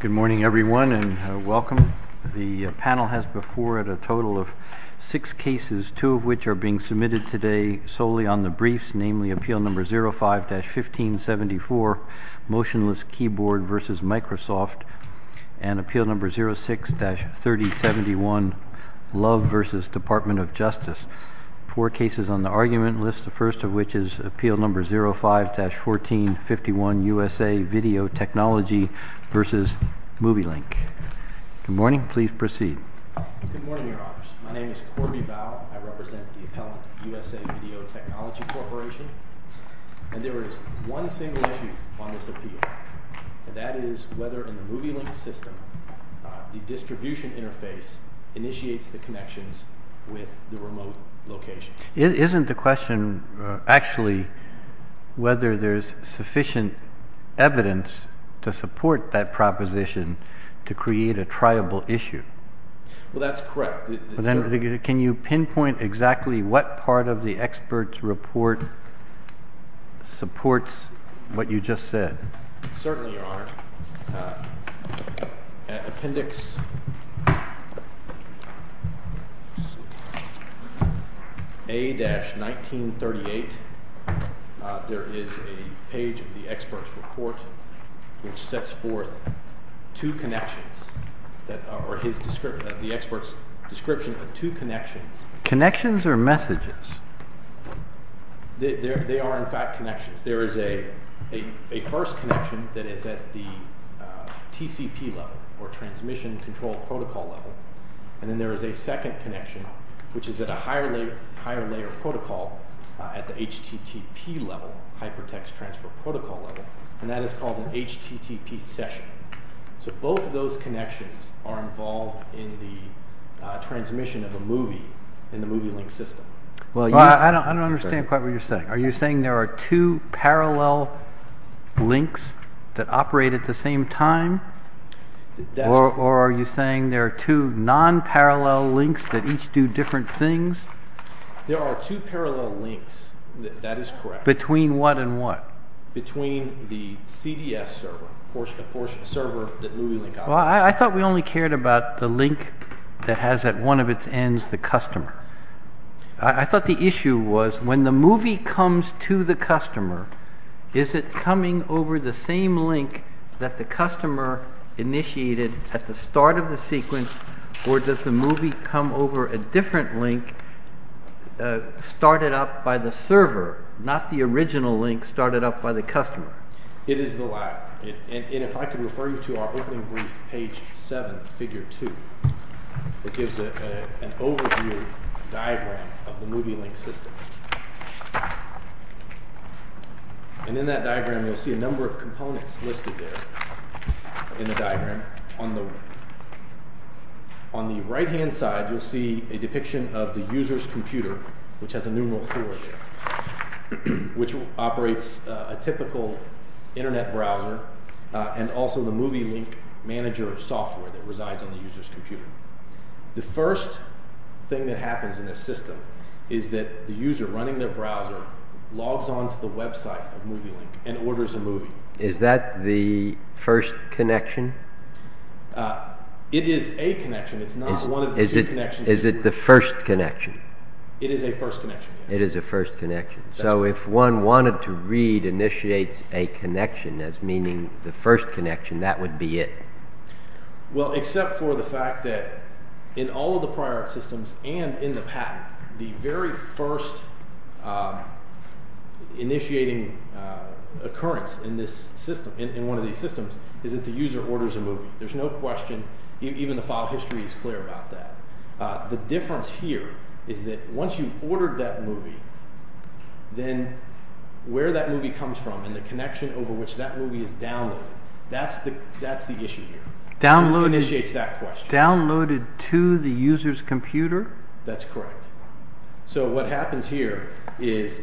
Good morning everyone and welcome. The panel has before it a total of six cases, two of which are being submitted today solely on the briefs, namely Appeal No. 05-1574, Motionless Keyboard v. Microsoft, and Appeal No. 06-3071, Love v. Department of Justice. Four cases on the argument list, the first of which is Appeal No. 05-1451, USA Video Technology v. Movielink. Good morning, please proceed. Good morning, Your Honors. My name is Corby Vowell. I represent the appellant, USA Video Technology Corporation, and there is one single issue on this appeal, and that is whether in the Movielink system the distribution interface initiates the connections with the remote locations. Isn't the question actually whether there's sufficient evidence to support that proposition to create a triable issue? Well, that's correct. Can you pinpoint exactly what part of the expert's report supports what you just said? Certainly, Your Honor. Appendix A-1938, there is a page of the expert's report which sets forth two connections, or the expert's description of two connections. Connections or messages? They are, in fact, connections. There is a first connection that is at the TCP level, or Transmission Control Protocol level, and then there is a second connection which is at a higher layer protocol at the HTTP level, Hypertext Transfer Protocol level, and that is called an HTTP session. So both of those connections are involved in the transmission of a movie in the Movielink system. I don't understand quite what you're saying. Are you saying there are two parallel links that operate at the same time? Or are you saying there are two non-parallel links that each do different things? There are two parallel links. That is correct. Between what and what? Between the CDS server, the server that Movielink operates on. Well, I thought we only cared about the link that has at one of its ends the customer. I thought the issue was when the movie comes to the customer, is it coming over the same link that the customer initiated at the start of the sequence, or does the movie come over a different link started up by the server, not the original link started up by the customer? It is the latter, and if I can refer you to our opening brief, page 7, figure 2, it gives an overview diagram of the Movielink system. And in that diagram you'll see a number of components listed there in the diagram. On the right-hand side you'll see a depiction of the user's computer, which has a numeral 4 there, which operates a typical internet browser, and also the Movielink manager software that resides on the user's computer. The first thing that happens in this system is that the user, running their browser, logs onto the website of Movielink and orders a movie. Is that the first connection? It is a connection. It's not one of the two connections. Is it the first connection? It is a first connection, yes. It is a first connection. So if one wanted to read initiate a connection as meaning the first connection, that would be it? Well, except for the fact that in all of the prior art systems and in the patent, the very first initiating occurrence in one of these systems is that the user orders a movie. There's no question, even the file history is clear about that. The difference here is that once you've ordered that movie, then where that movie comes from and the connection over which that movie is downloaded, that's the issue here. Downloaded to the user's computer? That's correct. So what happens here is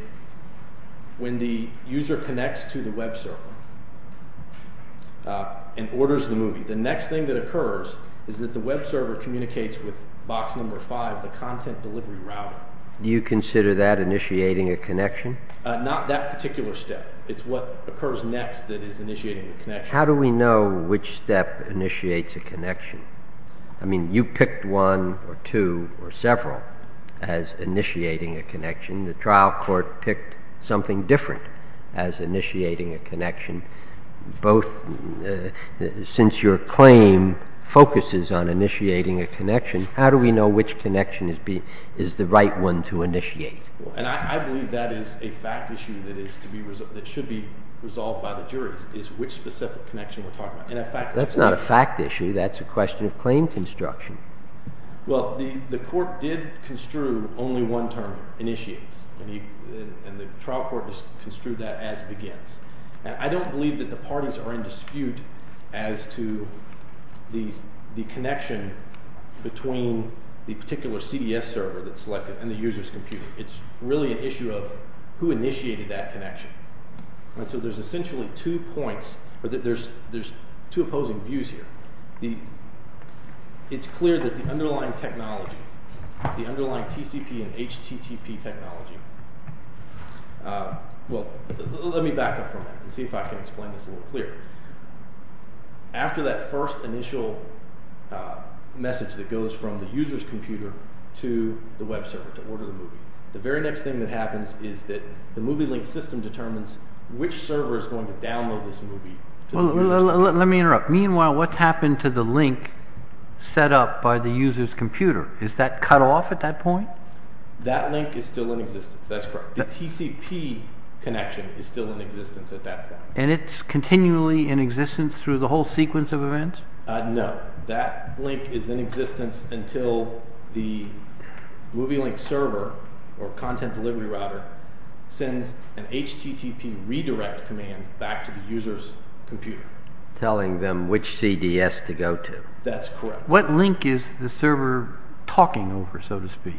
when the user connects to the web server and orders the movie, the next thing that occurs is that the web server communicates with box number 5, the content delivery router. Do you consider that initiating a connection? Not that particular step. It's what occurs next that is initiating the connection. How do we know which step initiates a connection? I mean, you picked one or two or several as initiating a connection. The trial court picked something different as initiating a connection. Since your claim focuses on initiating a connection, how do we know which connection is the right one to initiate? And I believe that is a fact issue that should be resolved by the juries, is which specific connection we're talking about. That's not a fact issue. That's a question of claim construction. Well, the court did construe only one term, initiates, and the trial court just construed that as begins. And I don't believe that the parties are in dispute as to the connection between the particular CDS server that's selected and the user's computer. It's really an issue of who initiated that connection. So there's essentially two opposing views here. It's clear that the underlying technology, the underlying TCP and HTTP technology, well, let me back up for a minute and see if I can explain this a little clearer. After that first initial message that goes from the user's computer to the web server to order the movie, the very next thing that happens is that the MovieLink system determines which server is going to download this movie. Well, let me interrupt. Meanwhile, what's happened to the link set up by the user's computer? Is that cut off at that point? That link is still in existence. That's correct. The TCP connection is still in existence at that point. And it's continually in existence through the whole sequence of events? No. That link is in existence until the MovieLink server or content delivery router sends an HTTP redirect command back to the user's computer. Telling them which CDS to go to? That's correct. What link is the server talking over, so to speak,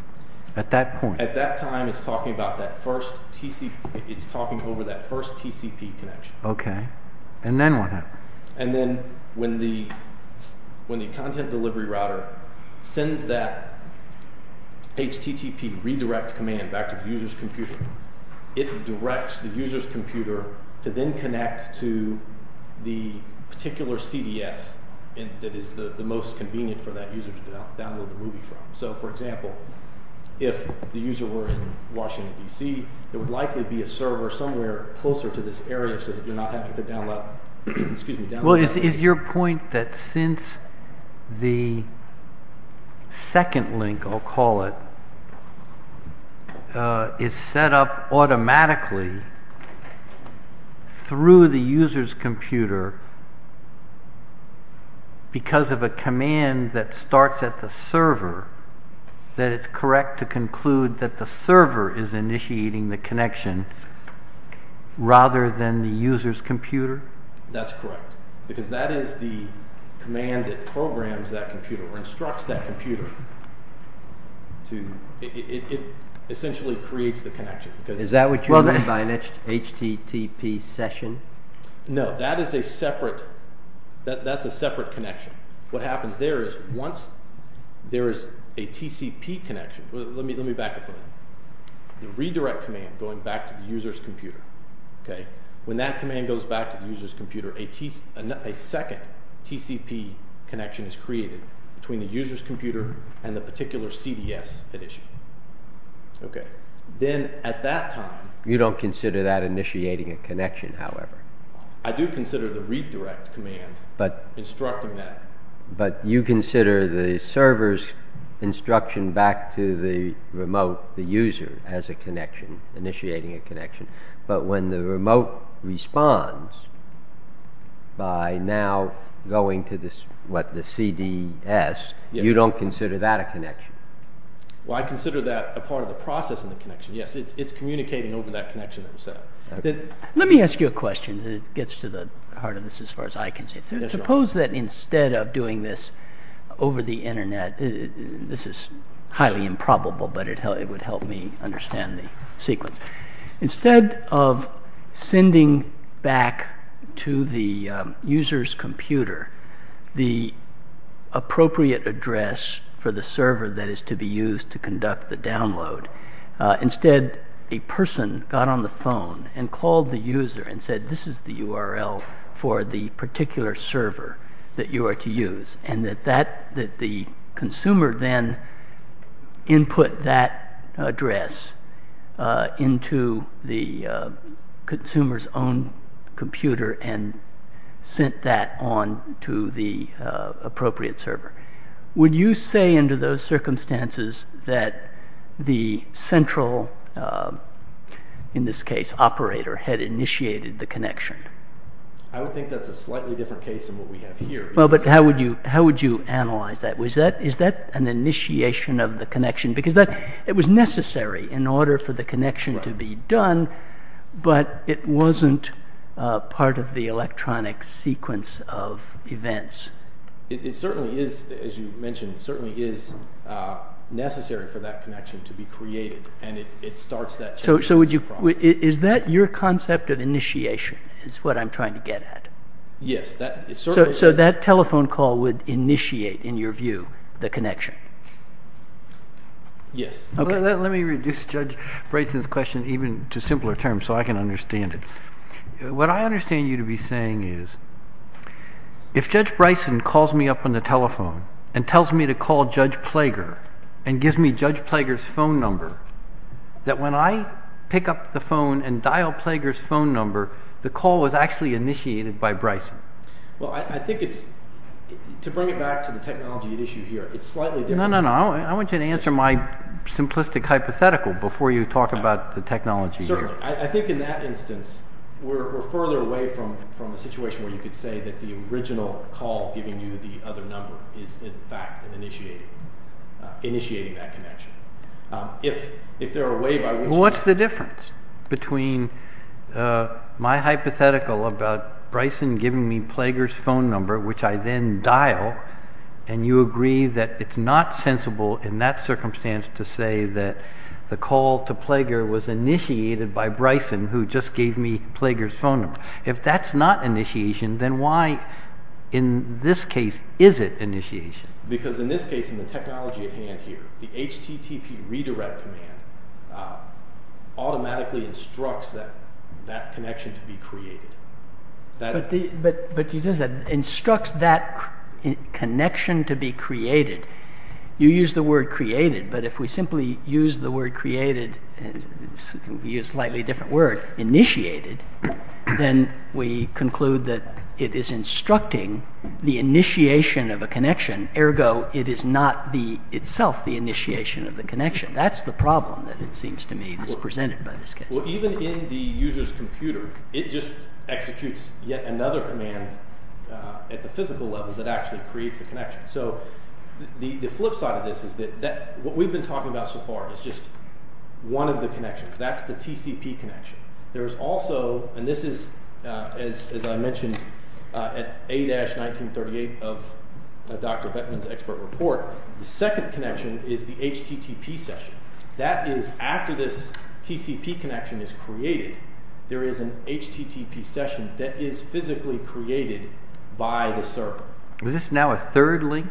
at that point? At that time, it's talking over that first TCP connection. Okay. And then what happened? And then when the content delivery router sends that HTTP redirect command back to the user's computer, it directs the user's computer to then connect to the particular CDS that is the most convenient for that user to download the movie from. So, for example, if the user were in Washington, D.C., it would likely be a server somewhere closer to this area so that you're not having to download. Well, is your point that since the second link, I'll call it, is set up automatically through the user's computer because of a command that starts at the server, that it's correct to conclude that the server is initiating the connection rather than the user's computer? That's correct. Because that is the command that programs that computer or instructs that computer. It essentially creates the connection. Is that what you mean by an HTTP session? No. That's a separate connection. What happens there is once there is a TCP connection, let me back up a minute, the redirect command going back to the user's computer, when that command goes back to the user's computer, a second TCP connection is created between the user's computer and the particular CDS it issued. Okay. Then at that time... You don't consider that initiating a connection, however? I do consider the redirect command instructing that. But you consider the server's instruction back to the remote, the user, as a connection, initiating a connection. But when the remote responds by now going to the CDS, you don't consider that a connection? Well, I consider that a part of the process of the connection. Yes, it's communicating over that connection that was set up. Let me ask you a question that gets to the heart of this as far as I can see. Suppose that instead of doing this over the Internet, this is highly improbable, but it would help me understand the sequence. Instead of sending back to the user's computer the appropriate address for the server that is to be used to conduct the download, instead a person got on the phone and called the user and said, this is the URL for the particular server that you are to use. And that the consumer then input that address into the consumer's own computer and sent that on to the appropriate server. Would you say under those circumstances that the central, in this case operator, had initiated the connection? I would think that's a slightly different case than what we have here. Well, but how would you analyze that? Is that an initiation of the connection? Because it was necessary in order for the connection to be done, It certainly is, as you mentioned, it certainly is necessary for that connection to be created. And it starts that change. So is that your concept of initiation is what I'm trying to get at? Yes. So that telephone call would initiate, in your view, the connection? Yes. Let me reduce Judge Bryson's question even to simpler terms so I can understand it. What I understand you to be saying is if Judge Bryson calls me up on the telephone and tells me to call Judge Plager and gives me Judge Plager's phone number, that when I pick up the phone and dial Plager's phone number, the call was actually initiated by Bryson? Well, I think it's – to bring it back to the technology at issue here, it's slightly different. No, no, no. I want you to answer my simplistic hypothetical before you talk about the technology. Certainly. I think in that instance we're further away from a situation where you could say that the original call giving you the other number is, in fact, initiating that connection. If there are ways by which – Well, what's the difference between my hypothetical about Bryson giving me Plager's phone number, which I then dial, and you agree that it's not sensible in that circumstance to say that the call to Plager was initiated by Bryson, who just gave me Plager's phone number? If that's not initiation, then why in this case is it initiation? Because in this case, in the technology at hand here, the HTTP redirect command automatically instructs that connection to be created. But you just said, instructs that connection to be created. You used the word created, but if we simply use the word created and use a slightly different word, initiated, then we conclude that it is instructing the initiation of a connection. Ergo, it is not itself the initiation of the connection. That's the problem that it seems to me is presented by this case. Well, even in the user's computer, it just executes yet another command at the physical level that actually creates a connection. So the flip side of this is that what we've been talking about so far is just one of the connections. That's the TCP connection. There's also, and this is, as I mentioned, at A-1938 of Dr. Bettman's expert report, the second connection is the HTTP session. That is, after this TCP connection is created, there is an HTTP session that is physically created by the server. Is this now a third link?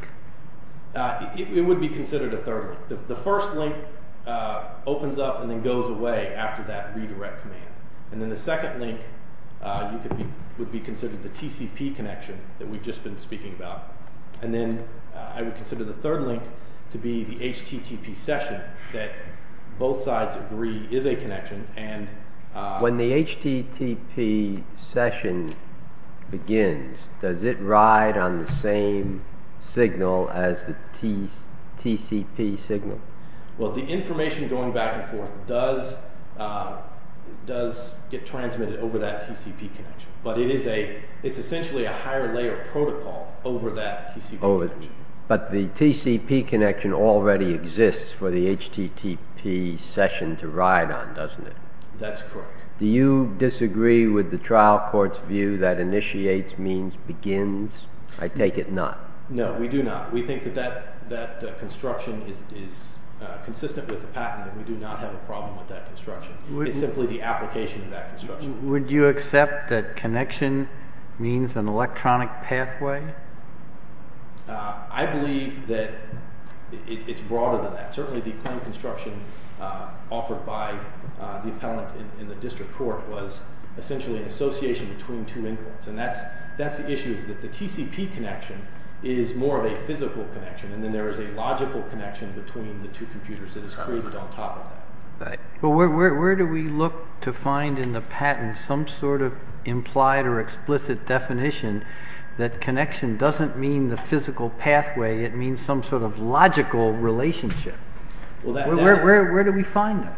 It would be considered a third link. The first link opens up and then goes away after that redirect command. And then the second link would be considered the TCP connection that we've just been speaking about. And then I would consider the third link to be the HTTP session that both sides agree is a connection. When the HTTP session begins, does it ride on the same signal as the TCP signal? Well, the information going back and forth does get transmitted over that TCP connection. But it is essentially a higher layer protocol over that TCP connection. But the TCP connection already exists for the HTTP session to ride on, doesn't it? That's correct. Do you disagree with the trial court's view that initiates means begins? I take it not. No, we do not. We think that that construction is consistent with the patent and we do not have a problem with that construction. It's simply the application of that construction. Would you accept that connection means an electronic pathway? I believe that it's broader than that. Certainly the claim construction offered by the appellant in the district court was essentially an association between two inputs. And that's the issue is that the TCP connection is more of a physical connection and then there is a logical connection between the two computers that is created on top of that. Where do we look to find in the patent some sort of implied or explicit definition that connection doesn't mean the physical pathway, it means some sort of logical relationship? Where do we find that?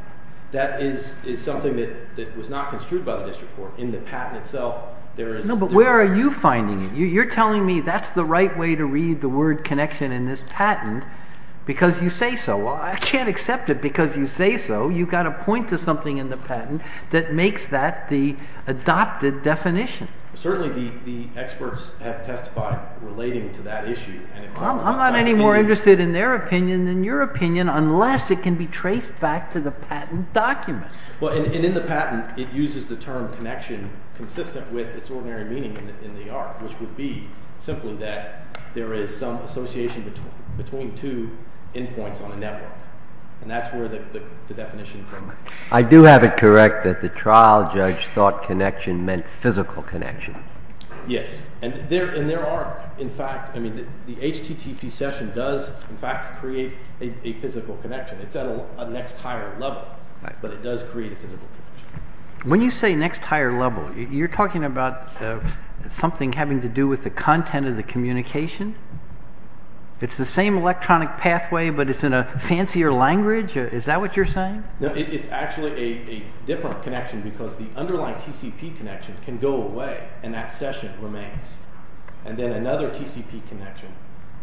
That is something that was not construed by the district court. In the patent itself, there is... No, but where are you finding it? You're telling me that's the right way to read the word connection in this patent because you say so. I can't accept it because you say so. You've got to point to something in the patent that makes that the adopted definition. Certainly the experts have testified relating to that issue. I'm not any more interested in their opinion than your opinion unless it can be traced back to the patent document. Well, and in the patent, it uses the term connection consistent with its ordinary meaning in the art, which would be simply that there is some association between two endpoints on a network, and that's where the definition comes from. I do have it correct that the trial judge thought connection meant physical connection. Yes, and there are, in fact, I mean the HTTP session does, in fact, create a physical connection. It's at a next higher level, but it does create a physical connection. When you say next higher level, you're talking about something having to do with the content of the communication? It's the same electronic pathway, but it's in a fancier language? Is that what you're saying? No, it's actually a different connection because the underlying TCP connection can go away and that session remains, and then another TCP connection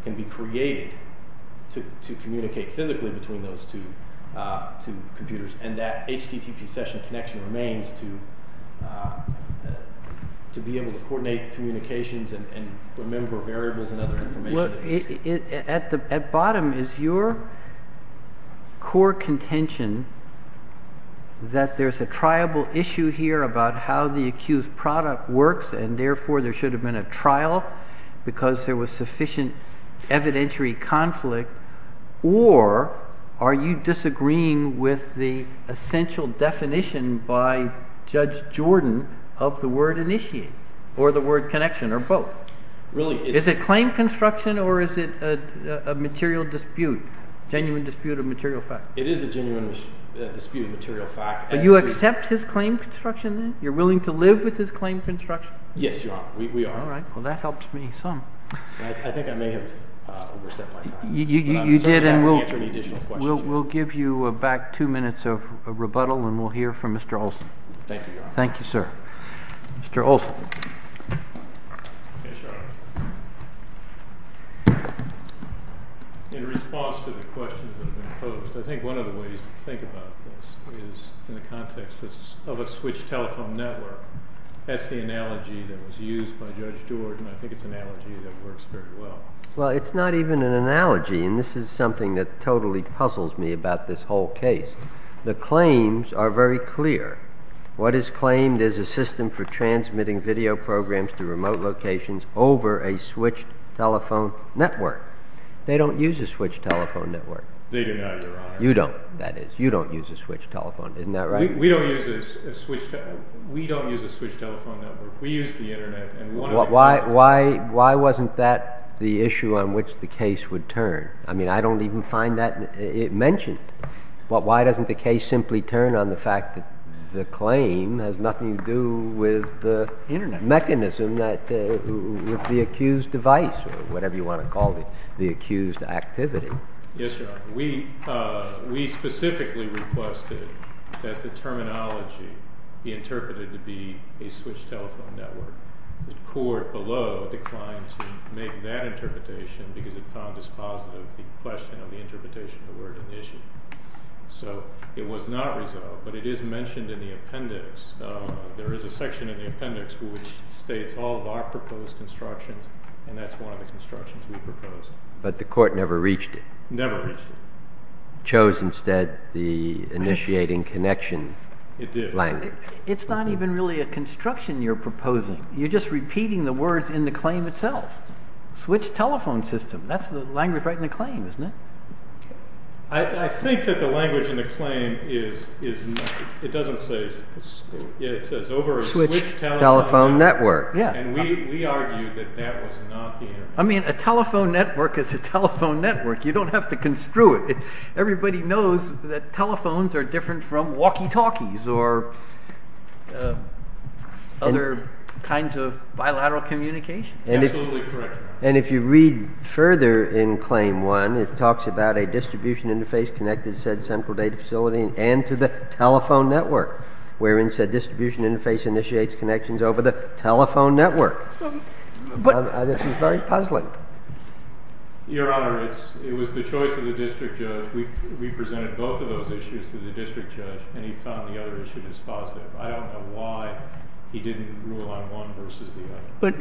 can be created to communicate physically between those two computers, and that HTTP session connection remains to be able to coordinate communications and remember variables and other information. At the bottom, is your core contention that there's a triable issue here about how the accused product works, and therefore there should have been a trial because there was sufficient evidentiary conflict, or are you disagreeing with the essential definition by Judge Jordan of the word initiate or the word connection or both? Is it claim construction or is it a material dispute, genuine dispute of material fact? It is a genuine dispute of material fact. Do you accept his claim construction then? You're willing to live with his claim construction? Yes, we are. All right, well that helps me some. I think I may have overstepped my time. You did and we'll give you back two minutes of rebuttal and we'll hear from Mr. Olson. Thank you, Your Honor. Thank you, sir. Mr. Olson. Yes, Your Honor. In response to the questions that have been posed, I think one of the ways to think about this is in the context of a switched telephone network. That's the analogy that was used by Judge Jordan. I think it's an analogy that works very well. Well, it's not even an analogy and this is something that totally puzzles me about this whole case. The claims are very clear. What is claimed is a system for transmitting video programs to remote locations over a switched telephone network. They don't use a switched telephone network. They do not, Your Honor. You don't, that is. You don't use a switched telephone, isn't that right? We don't use a switched telephone network. We use the internet. Why wasn't that the issue on which the case would turn? I mean, I don't even find that mentioned. Why doesn't the case simply turn on the fact that the claim has nothing to do with the mechanism, with the accused device or whatever you want to call it, the accused activity? Yes, Your Honor. We specifically requested that the terminology be interpreted to be a switched telephone network. The court below declined to make that interpretation because it found as positive the question of the interpretation of the word in the issue. So it was not resolved, but it is mentioned in the appendix. There is a section in the appendix which states all of our proposed constructions and that's one of the constructions we proposed. But the court never reached it. Never reached it. Chose instead the initiating connection language. It did. It's not even really a construction you're proposing. You're just repeating the words in the claim itself. Switched telephone system, that's the language right in the claim, isn't it? I think that the language in the claim is, it doesn't say, it says over a switched telephone network. Switched telephone network, yeah. And we argued that that was not the internet. I mean, a telephone network is a telephone network. You don't have to construe it. Everybody knows that telephones are different from walkie-talkies or other kinds of bilateral communication. Absolutely correct. And if you read further in claim one, it talks about a distribution interface connected said central data facility and to the telephone network, wherein said distribution interface initiates connections over the telephone network. This is very puzzling. Your Honor, it was the choice of the district judge. We presented both of those issues to the district judge, and he found the other issue to be positive. I don't know why he didn't rule on one versus the other. But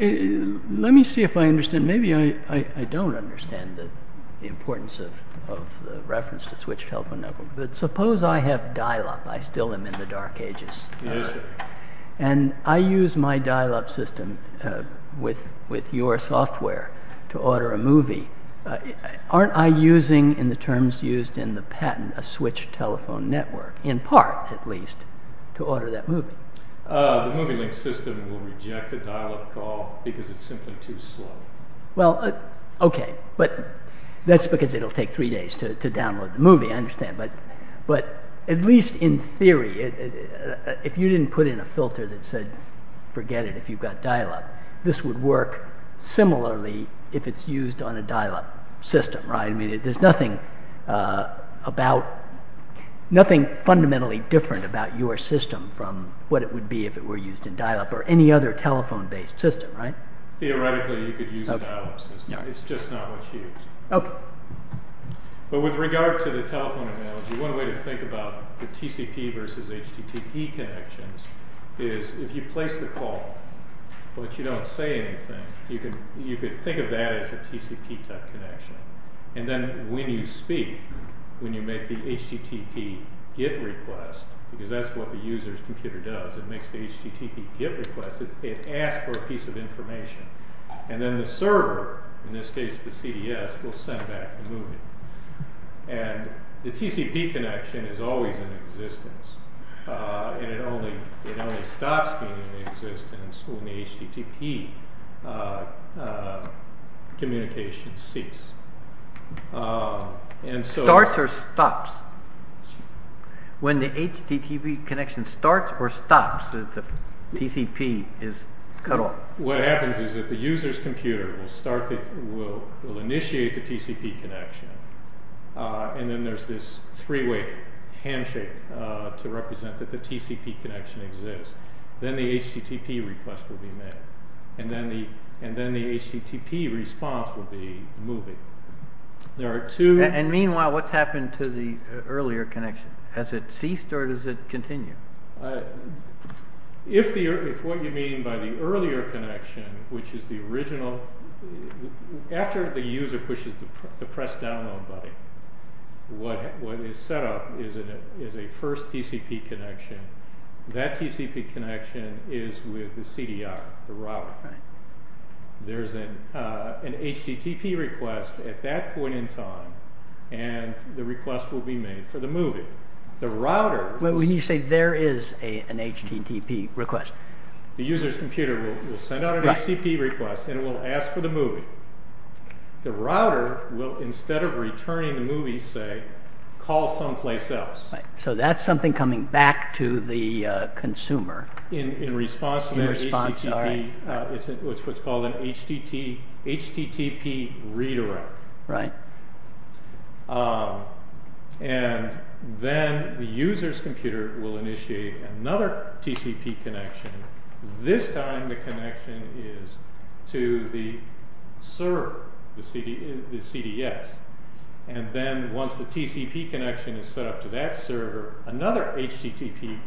let me see if I understand. Maybe I don't understand the importance of the reference to switched telephone network. But suppose I have dial-up. I still am in the dark ages. Yes, sir. And I use my dial-up system with your software to order a movie. Aren't I using in the terms used in the patent a switched telephone network, in part at least, to order that movie? The MovieLink system will reject a dial-up call because it's simply too slow. Well, okay. But that's because it will take three days to download the movie. I understand. But at least in theory, if you didn't put in a filter that said forget it if you've got dial-up, this would work similarly if it's used on a dial-up system, right? I mean, there's nothing fundamentally different about your system from what it would be if it were used in dial-up or any other telephone-based system, right? Theoretically, you could use a dial-up system. It's just not what's used. Okay. But with regard to the telephone analogy, one way to think about the TCP versus HTTP connections is if you place the call, but you don't say anything, you could think of that as a TCP type connection. And then when you speak, when you make the HTTP get request, because that's what the user's computer does, it makes the HTTP get request, it asks for a piece of information. And then the server, in this case the CDS, will send back the movie. And the TCP connection is always in existence, and it only stops being in existence when the HTTP communication ceases. Starts or stops? When the HTTP connection starts or stops, the TCP is cut off? What happens is that the user's computer will initiate the TCP connection, and then there's this three-way handshake to represent that the TCP connection exists. Then the HTTP request will be made, and then the HTTP response will be the movie. And meanwhile, what's happened to the earlier connection? Has it ceased or does it continue? If what you mean by the earlier connection, which is the original, after the user pushes the press download button, what is set up is a first TCP connection. That TCP connection is with the CDR, the router. There's an HTTP request at that point in time, and the request will be made for the movie. When you say there is an HTTP request? The user's computer will send out an HTTP request, and it will ask for the movie. The router will, instead of returning the movie, say, call someplace else. So that's something coming back to the consumer. In response to that HTTP, it's what's called an HTTP redirect. And then the user's computer will initiate another TCP connection. This time the connection is to the server, the CDS. And then once the TCP connection is set up to that server, another HTTP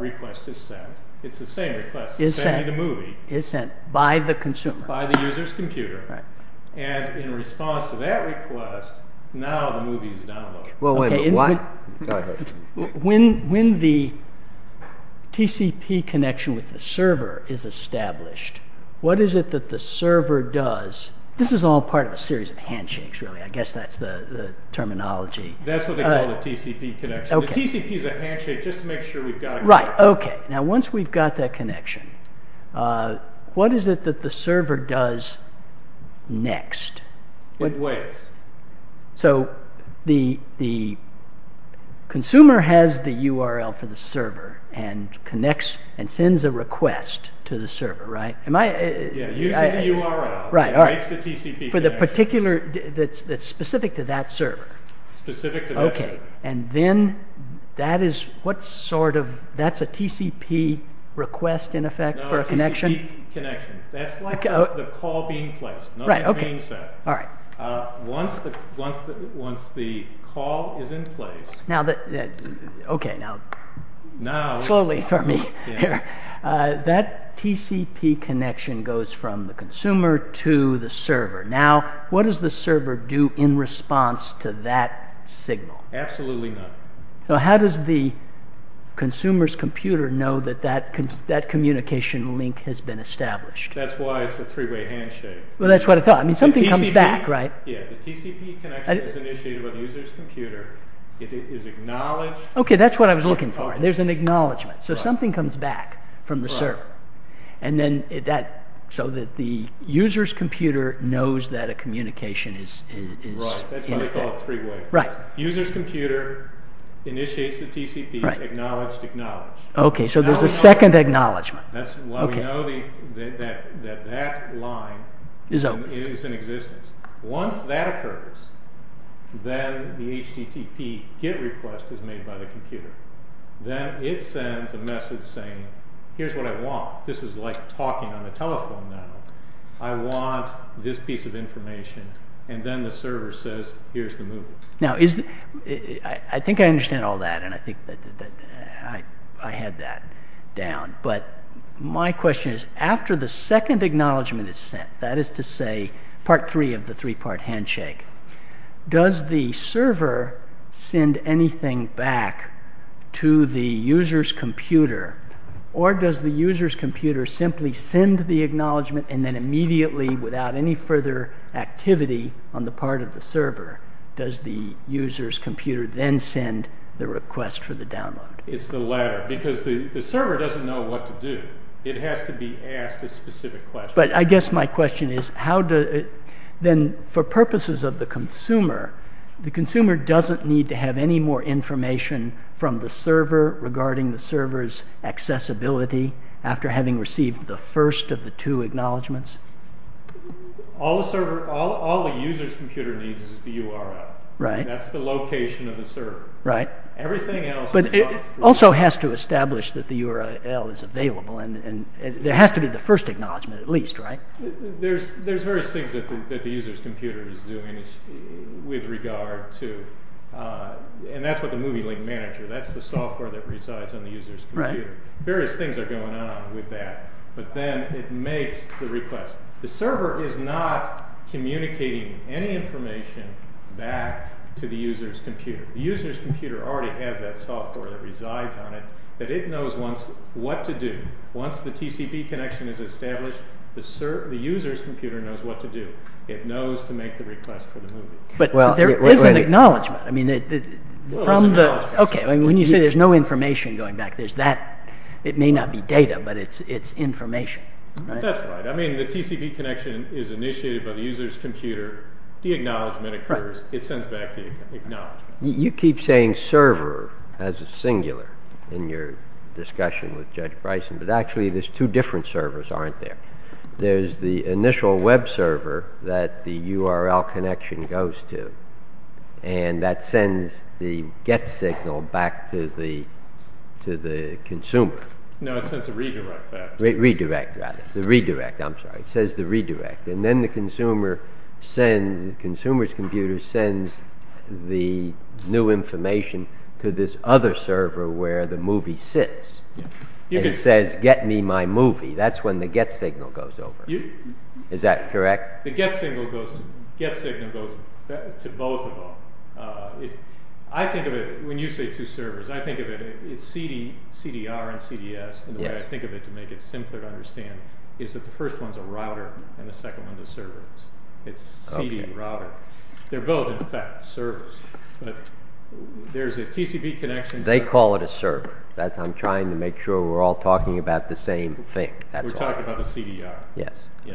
request is sent. It's the same request. It's sending the movie. It's sent by the consumer. By the user's computer. And in response to that request, now the movie is downloaded. When the TCP connection with the server is established, what is it that the server does? This is all part of a series of handshakes, really. I guess that's the terminology. That's what they call a TCP connection. A TCP is a handshake just to make sure we've got it. Okay, now once we've got that connection, what is it that the server does next? It waits. So the consumer has the URL for the server and connects and sends a request to the server, right? Yeah, uses the URL. Right, all right. Makes the TCP connection. That's specific to that server. Specific to that server. And then that's a TCP request, in effect, for a connection? No, a TCP connection. That's like the call being placed. Right, okay. Not the change set. All right. Once the call is in place... Okay, now, slowly for me here. That TCP connection goes from the consumer to the server. Now, what does the server do in response to that signal? Absolutely nothing. So how does the consumer's computer know that that communication link has been established? That's why it's a three-way handshake. Well, that's what I thought. I mean, something comes back, right? Yeah, the TCP connection is initiated by the user's computer. It is acknowledged. Okay, that's what I was looking for. There's an acknowledgement. So something comes back from the server. Right. So that the user's computer knows that a communication is... Right, that's why they call it three-way. User's computer initiates the TCP. Right. Acknowledged, acknowledged. Okay, so there's a second acknowledgement. That's why we know that that line is in existence. Once that occurs, then the HTTP GET request is made by the computer. Then it sends a message saying, here's what I want. I want this piece of information. And then the server says, here's the move. Now, I think I understand all that. And I think that I had that down. But my question is, after the second acknowledgement is sent, that is to say, part three of the three-part handshake, does the server send anything back to the user's computer? Or does the user's computer simply send the acknowledgement and then immediately, without any further activity on the part of the server, does the user's computer then send the request for the download? It's the latter. Because the server doesn't know what to do. It has to be asked a specific question. But I guess my question is, how does it... Then, for purposes of the consumer, the consumer doesn't need to have any more information from the server regarding the server's accessibility after having received the first of the two acknowledgements? All the user's computer needs is the URL. That's the location of the server. Everything else... But it also has to establish that the URL is available. There has to be the first acknowledgement, at least, right? There's various things that the user's computer is doing with regard to... And that's what the movie link manager... That's the software that resides on the user's computer. Various things are going on with that. But then it makes the request. The server is not communicating any information back to the user's computer. The user's computer already has that software that resides on it that it knows what to do. Once the TCP connection is established, the user's computer knows what to do. It knows to make the request for the movie. But there is an acknowledgement. Well, there's an acknowledgement. When you say there's no information going back, there's that. It may not be data, but it's information. That's right. I mean, the TCP connection is initiated by the user's computer. The acknowledgement occurs. It sends back the acknowledgement. You keep saying server as a singular in your discussion with Judge Bryson, but actually there's two different servers, aren't there? There's the initial web server that the URL connection goes to, and that sends the get signal back to the consumer. No, it sends a redirect back. Redirect, rather. The redirect, I'm sorry. It says the redirect. And then the consumer's computer sends the new information to this other server where the movie sits. It says, get me my movie. That's when the get signal goes over. Is that correct? The get signal goes to both of them. I think of it, when you say two servers, I think of it as CDR and CDS. And the way I think of it, to make it simpler to understand, is that the first one's a router and the second one's a server. It's CD and router. They're both, in fact, servers. But there's a TCP connection. They call it a server. I'm trying to make sure we're all talking about the same thing. We're talking about the CDR. Yes. The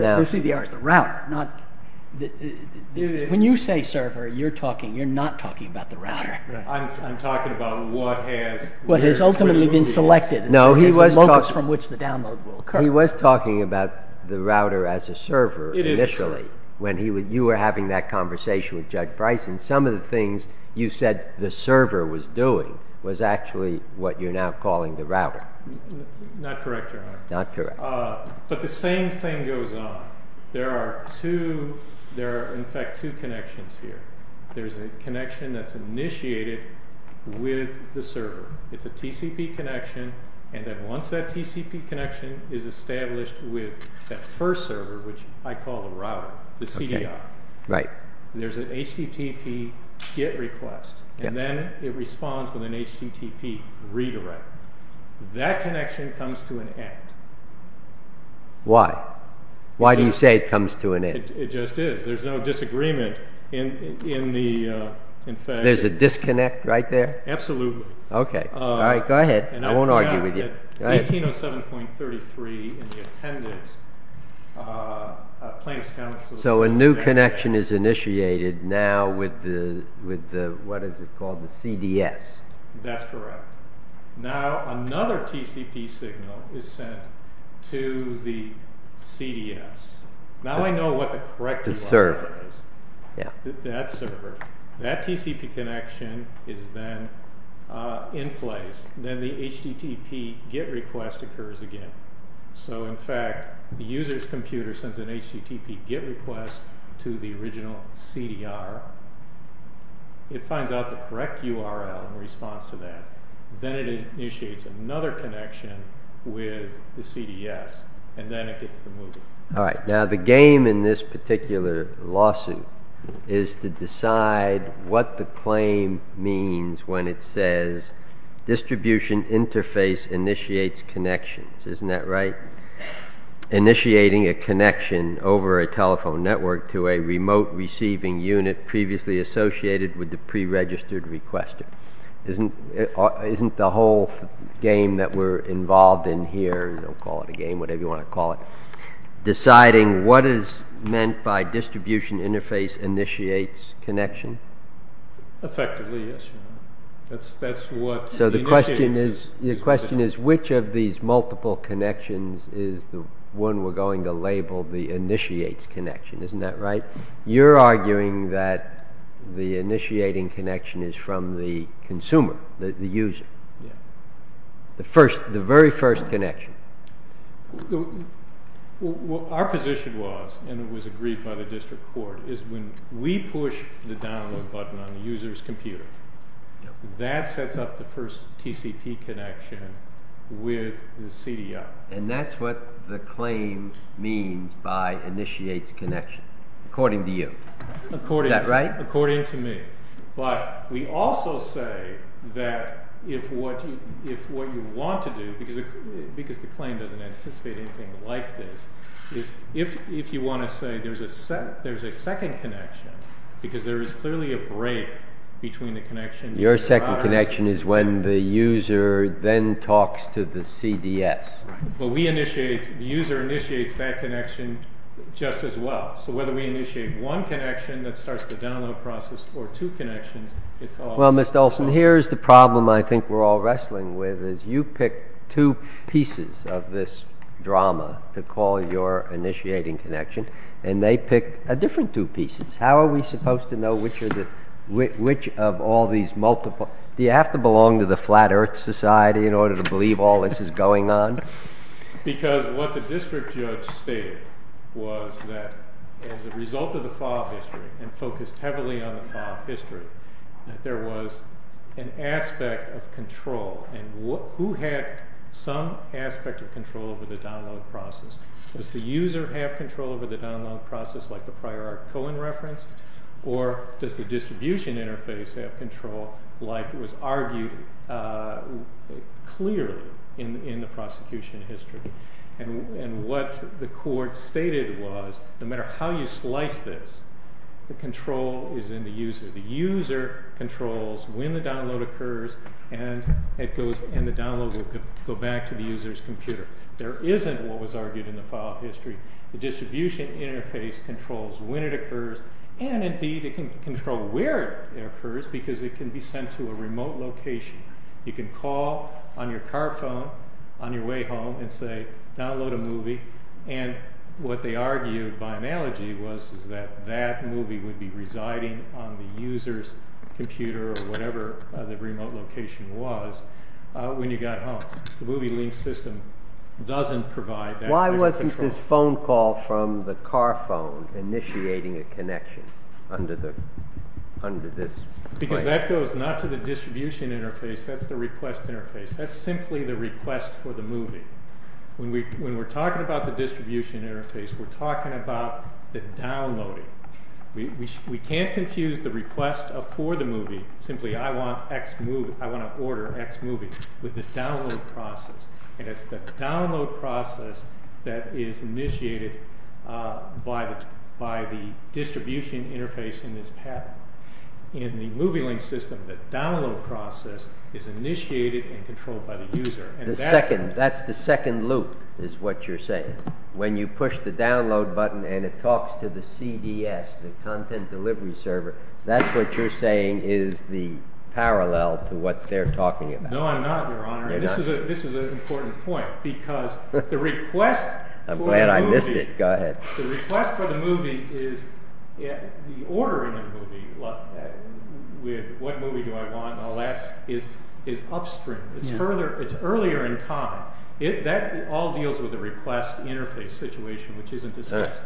CDR is the router. When you say server, you're not talking about the router. I'm talking about what has ultimately been selected. No, he was talking about the router as a server initially. When you were having that conversation with Judge Price and some of the things you said the server was doing was actually what you're now calling the router. Not correct, Your Honor. Not correct. But the same thing goes on. There are, in fact, two connections here. There's a connection that's initiated with the server. It's a TCP connection. And then once that TCP connection is established with that first server, which I call the router, the CDR, there's an HTTP GET request. And then it responds with an HTTP redirect. That connection comes to an end. Why? Why do you say it comes to an end? It just is. There's no disagreement in the, in fact... There's a disconnect right there? Absolutely. Okay. All right, go ahead. I won't argue with you. In 1907.33, in the appendix, a plaintiff's counsel... So a new connection is initiated now with the, what is it called, the CDS. That's correct. Now another TCP signal is sent to the CDS. Now I know what the correct URL is. The server. That server. That TCP connection is then in place. Then the HTTP GET request occurs again. So, in fact, the user's computer sends an HTTP GET request to the original CDR. It finds out the correct URL in response to that. Then it initiates another connection with the CDS. And then it gets to the movie. All right. Now the game in this particular lawsuit is to decide what the claim means when it says distribution interface initiates connections. Isn't that right? Initiating a connection over a telephone network to a remote receiving unit previously associated with the pre-registered requester. Isn't the whole game that we're involved in here, don't call it a game, whatever you want to call it, deciding what is meant by distribution interface initiates connection? Effectively, yes. That's what the initiates is. Your question is which of these multiple connections is the one we're going to label the initiates connection. Isn't that right? You're arguing that the initiating connection is from the consumer, the user. The very first connection. Our position was, and it was agreed by the district court, is when we push the download button on the user's computer, that sets up the first TCP connection with the CDI. And that's what the claim means by initiates connection, according to you. According to me. But we also say that if what you want to do, because the claim doesn't anticipate anything like this, is if you want to say there's a second connection, because there is clearly a break between the connection. Your second connection is when the user then talks to the CDS. Right. But we initiate, the user initiates that connection just as well. So whether we initiate one connection that starts the download process or two connections, it's all the same. Well, Mr. Olson, here's the problem I think we're all wrestling with, is you pick two pieces of this drama to call your initiating connection, and they pick a different two pieces. How are we supposed to know which of all these multiple? Do you have to belong to the Flat Earth Society in order to believe all this is going on? Because what the district judge stated was that as a result of the file history, and focused heavily on the file history, that there was an aspect of control. And who had some aspect of control over the download process? Does the user have control over the download process like the prior Cohen reference? Or does the distribution interface have control like was argued clearly in the prosecution history? And what the court stated was no matter how you slice this, the control is in the user. The user controls when the download occurs, and the download will go back to the user's computer. There isn't what was argued in the file history. The distribution interface controls when it occurs, and indeed it can control where it occurs because it can be sent to a remote location. You can call on your car phone on your way home and say download a movie, and what they argued by analogy was that that movie would be residing on the user's computer or whatever the remote location was when you got home. The movie link system doesn't provide that. Why wasn't this phone call from the car phone initiating a connection under this? Because that goes not to the distribution interface, that's the request interface. That's simply the request for the movie. When we're talking about the distribution interface, we're talking about the downloading. We can't confuse the request for the movie, simply I want to order X movie, with the download process, and it's the download process that is initiated by the distribution interface in this pattern. In the movie link system, the download process is initiated and controlled by the user. That's the second loop is what you're saying. When you push the download button and it talks to the CDS, the content delivery server, that's what you're saying is the parallel to what they're talking about. No, I'm not, Your Honor, and this is an important point. Because the request for the movie is the ordering of the movie, with what movie do I want and all that, is upstream. It's earlier in time. That all deals with the request interface situation, which isn't discussed.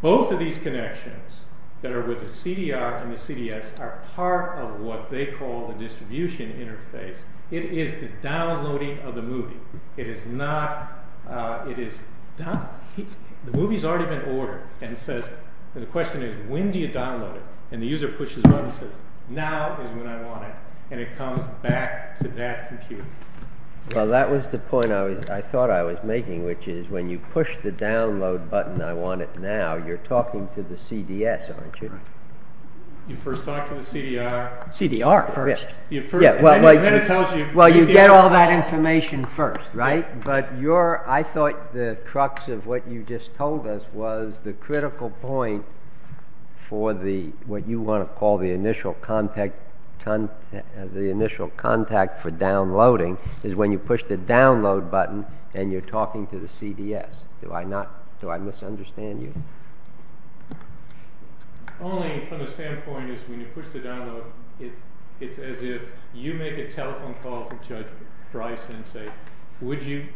Both of these connections that are with the CDR and the CDS are part of what they call the distribution interface. It is the downloading of the movie. The movie has already been ordered. The question is, when do you download it? The user pushes the button and says, now is when I want it, and it comes back to that computer. Well, that was the point I thought I was making, which is when you push the download button, I want it now, you're talking to the CDS, aren't you? You first talk to the CDR. CDR first. Well, you get all that information first, right? But I thought the crux of what you just told us was the critical point for what you want to call the initial contact for downloading is when you push the download button and you're talking to the CDS. Do I misunderstand you? The polling from the standpoint is when you push the download, it's as if you make a telephone call to Judge Bryson and say, would you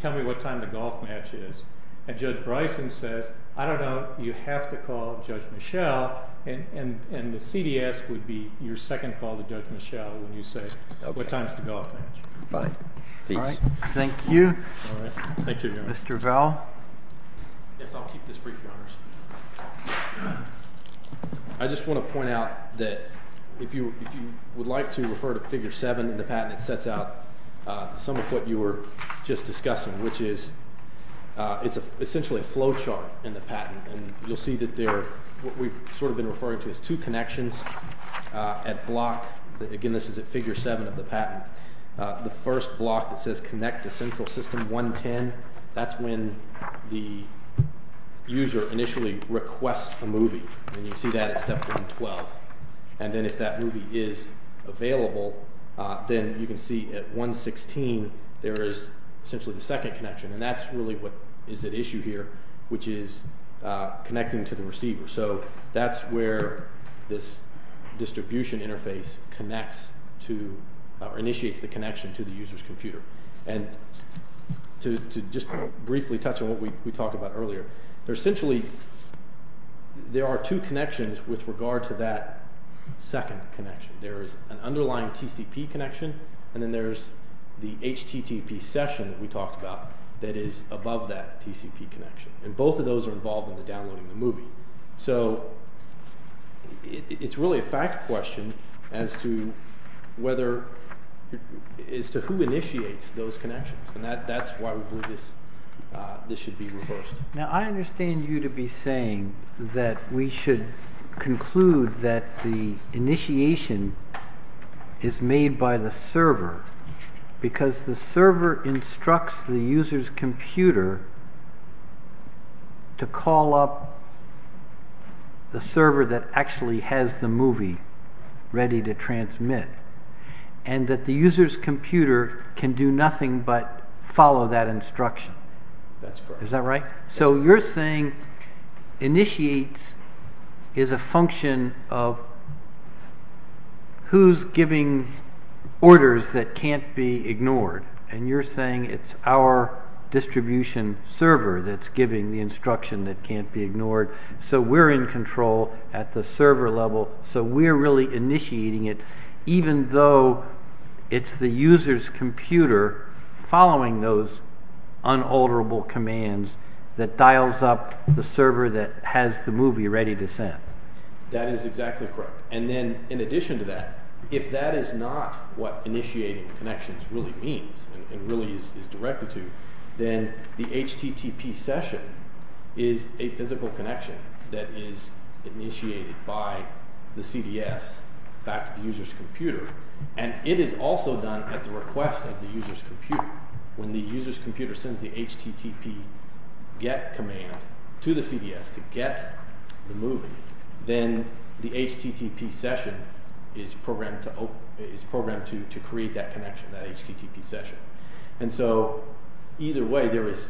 tell me what time the golf match is? And Judge Bryson says, I don't know. You have to call Judge Michel, and the CDS would be your second call to Judge Michel when you say, what time is the golf match? Thank you. Mr. Vell? Yes, I'll keep this brief, Your Honors. I just want to point out that if you would like to refer to Figure 7 in the patent, it sets out some of what you were just discussing, which is it's essentially a flow chart in the patent, and you'll see that there are what we've sort of been referring to as two connections at block. Again, this is at Figure 7 of the patent. The first block that says connect to Central System 110, that's when the user initially requests a movie, and you see that at step 112. And then if that movie is available, then you can see at 116 there is essentially the second connection, and that's really what is at issue here, which is connecting to the receiver. So that's where this distribution interface connects to or initiates the connection to the user's computer. And to just briefly touch on what we talked about earlier, essentially there are two connections with regard to that second connection. There is an underlying TCP connection, and then there's the HTTP session that we talked about that is above that TCP connection, So it's really a fact question as to who initiates those connections, and that's why we believe this should be reversed. Now I understand you to be saying that we should conclude that the initiation is made by the server because the server instructs the user's computer to call up the server that actually has the movie ready to transmit, and that the user's computer can do nothing but follow that instruction. That's correct. Is that right? So you're saying initiates is a function of who's giving orders that can't be ignored, and you're saying it's our distribution server that's giving the instruction that can't be ignored, so we're in control at the server level, so we're really initiating it even though it's the user's computer following those unalterable commands that dials up the server that has the movie ready to send. That is exactly correct. And then in addition to that, if that is not what initiating connections really means and really is directed to, then the HTTP session is a physical connection that is initiated by the CDS back to the user's computer, and it is also done at the request of the user's computer. When the user's computer sends the HTTP get command to the CDS to get the movie, then the HTTP session is programmed to create that connection, that HTTP session. And so either way, there is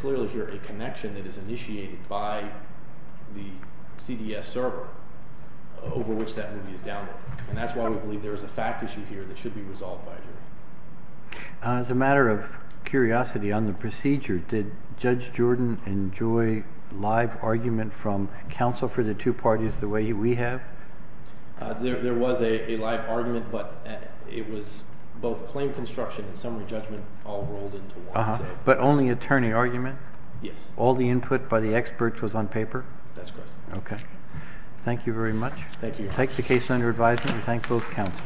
clearly here a connection that is initiated by the CDS server over which that movie is downloaded, and that's why we believe there is a fact issue here that should be resolved by a jury. As a matter of curiosity on the procedure, did Judge Jordan enjoy live argument from counsel for the two parties the way we have? There was a live argument, but it was both claim construction and summary judgment all rolled into one. But only attorney argument? Yes. All the input by the experts was on paper? That's correct. Okay. Thank you very much. Thank you. Take the case under advisement and thank both counsel.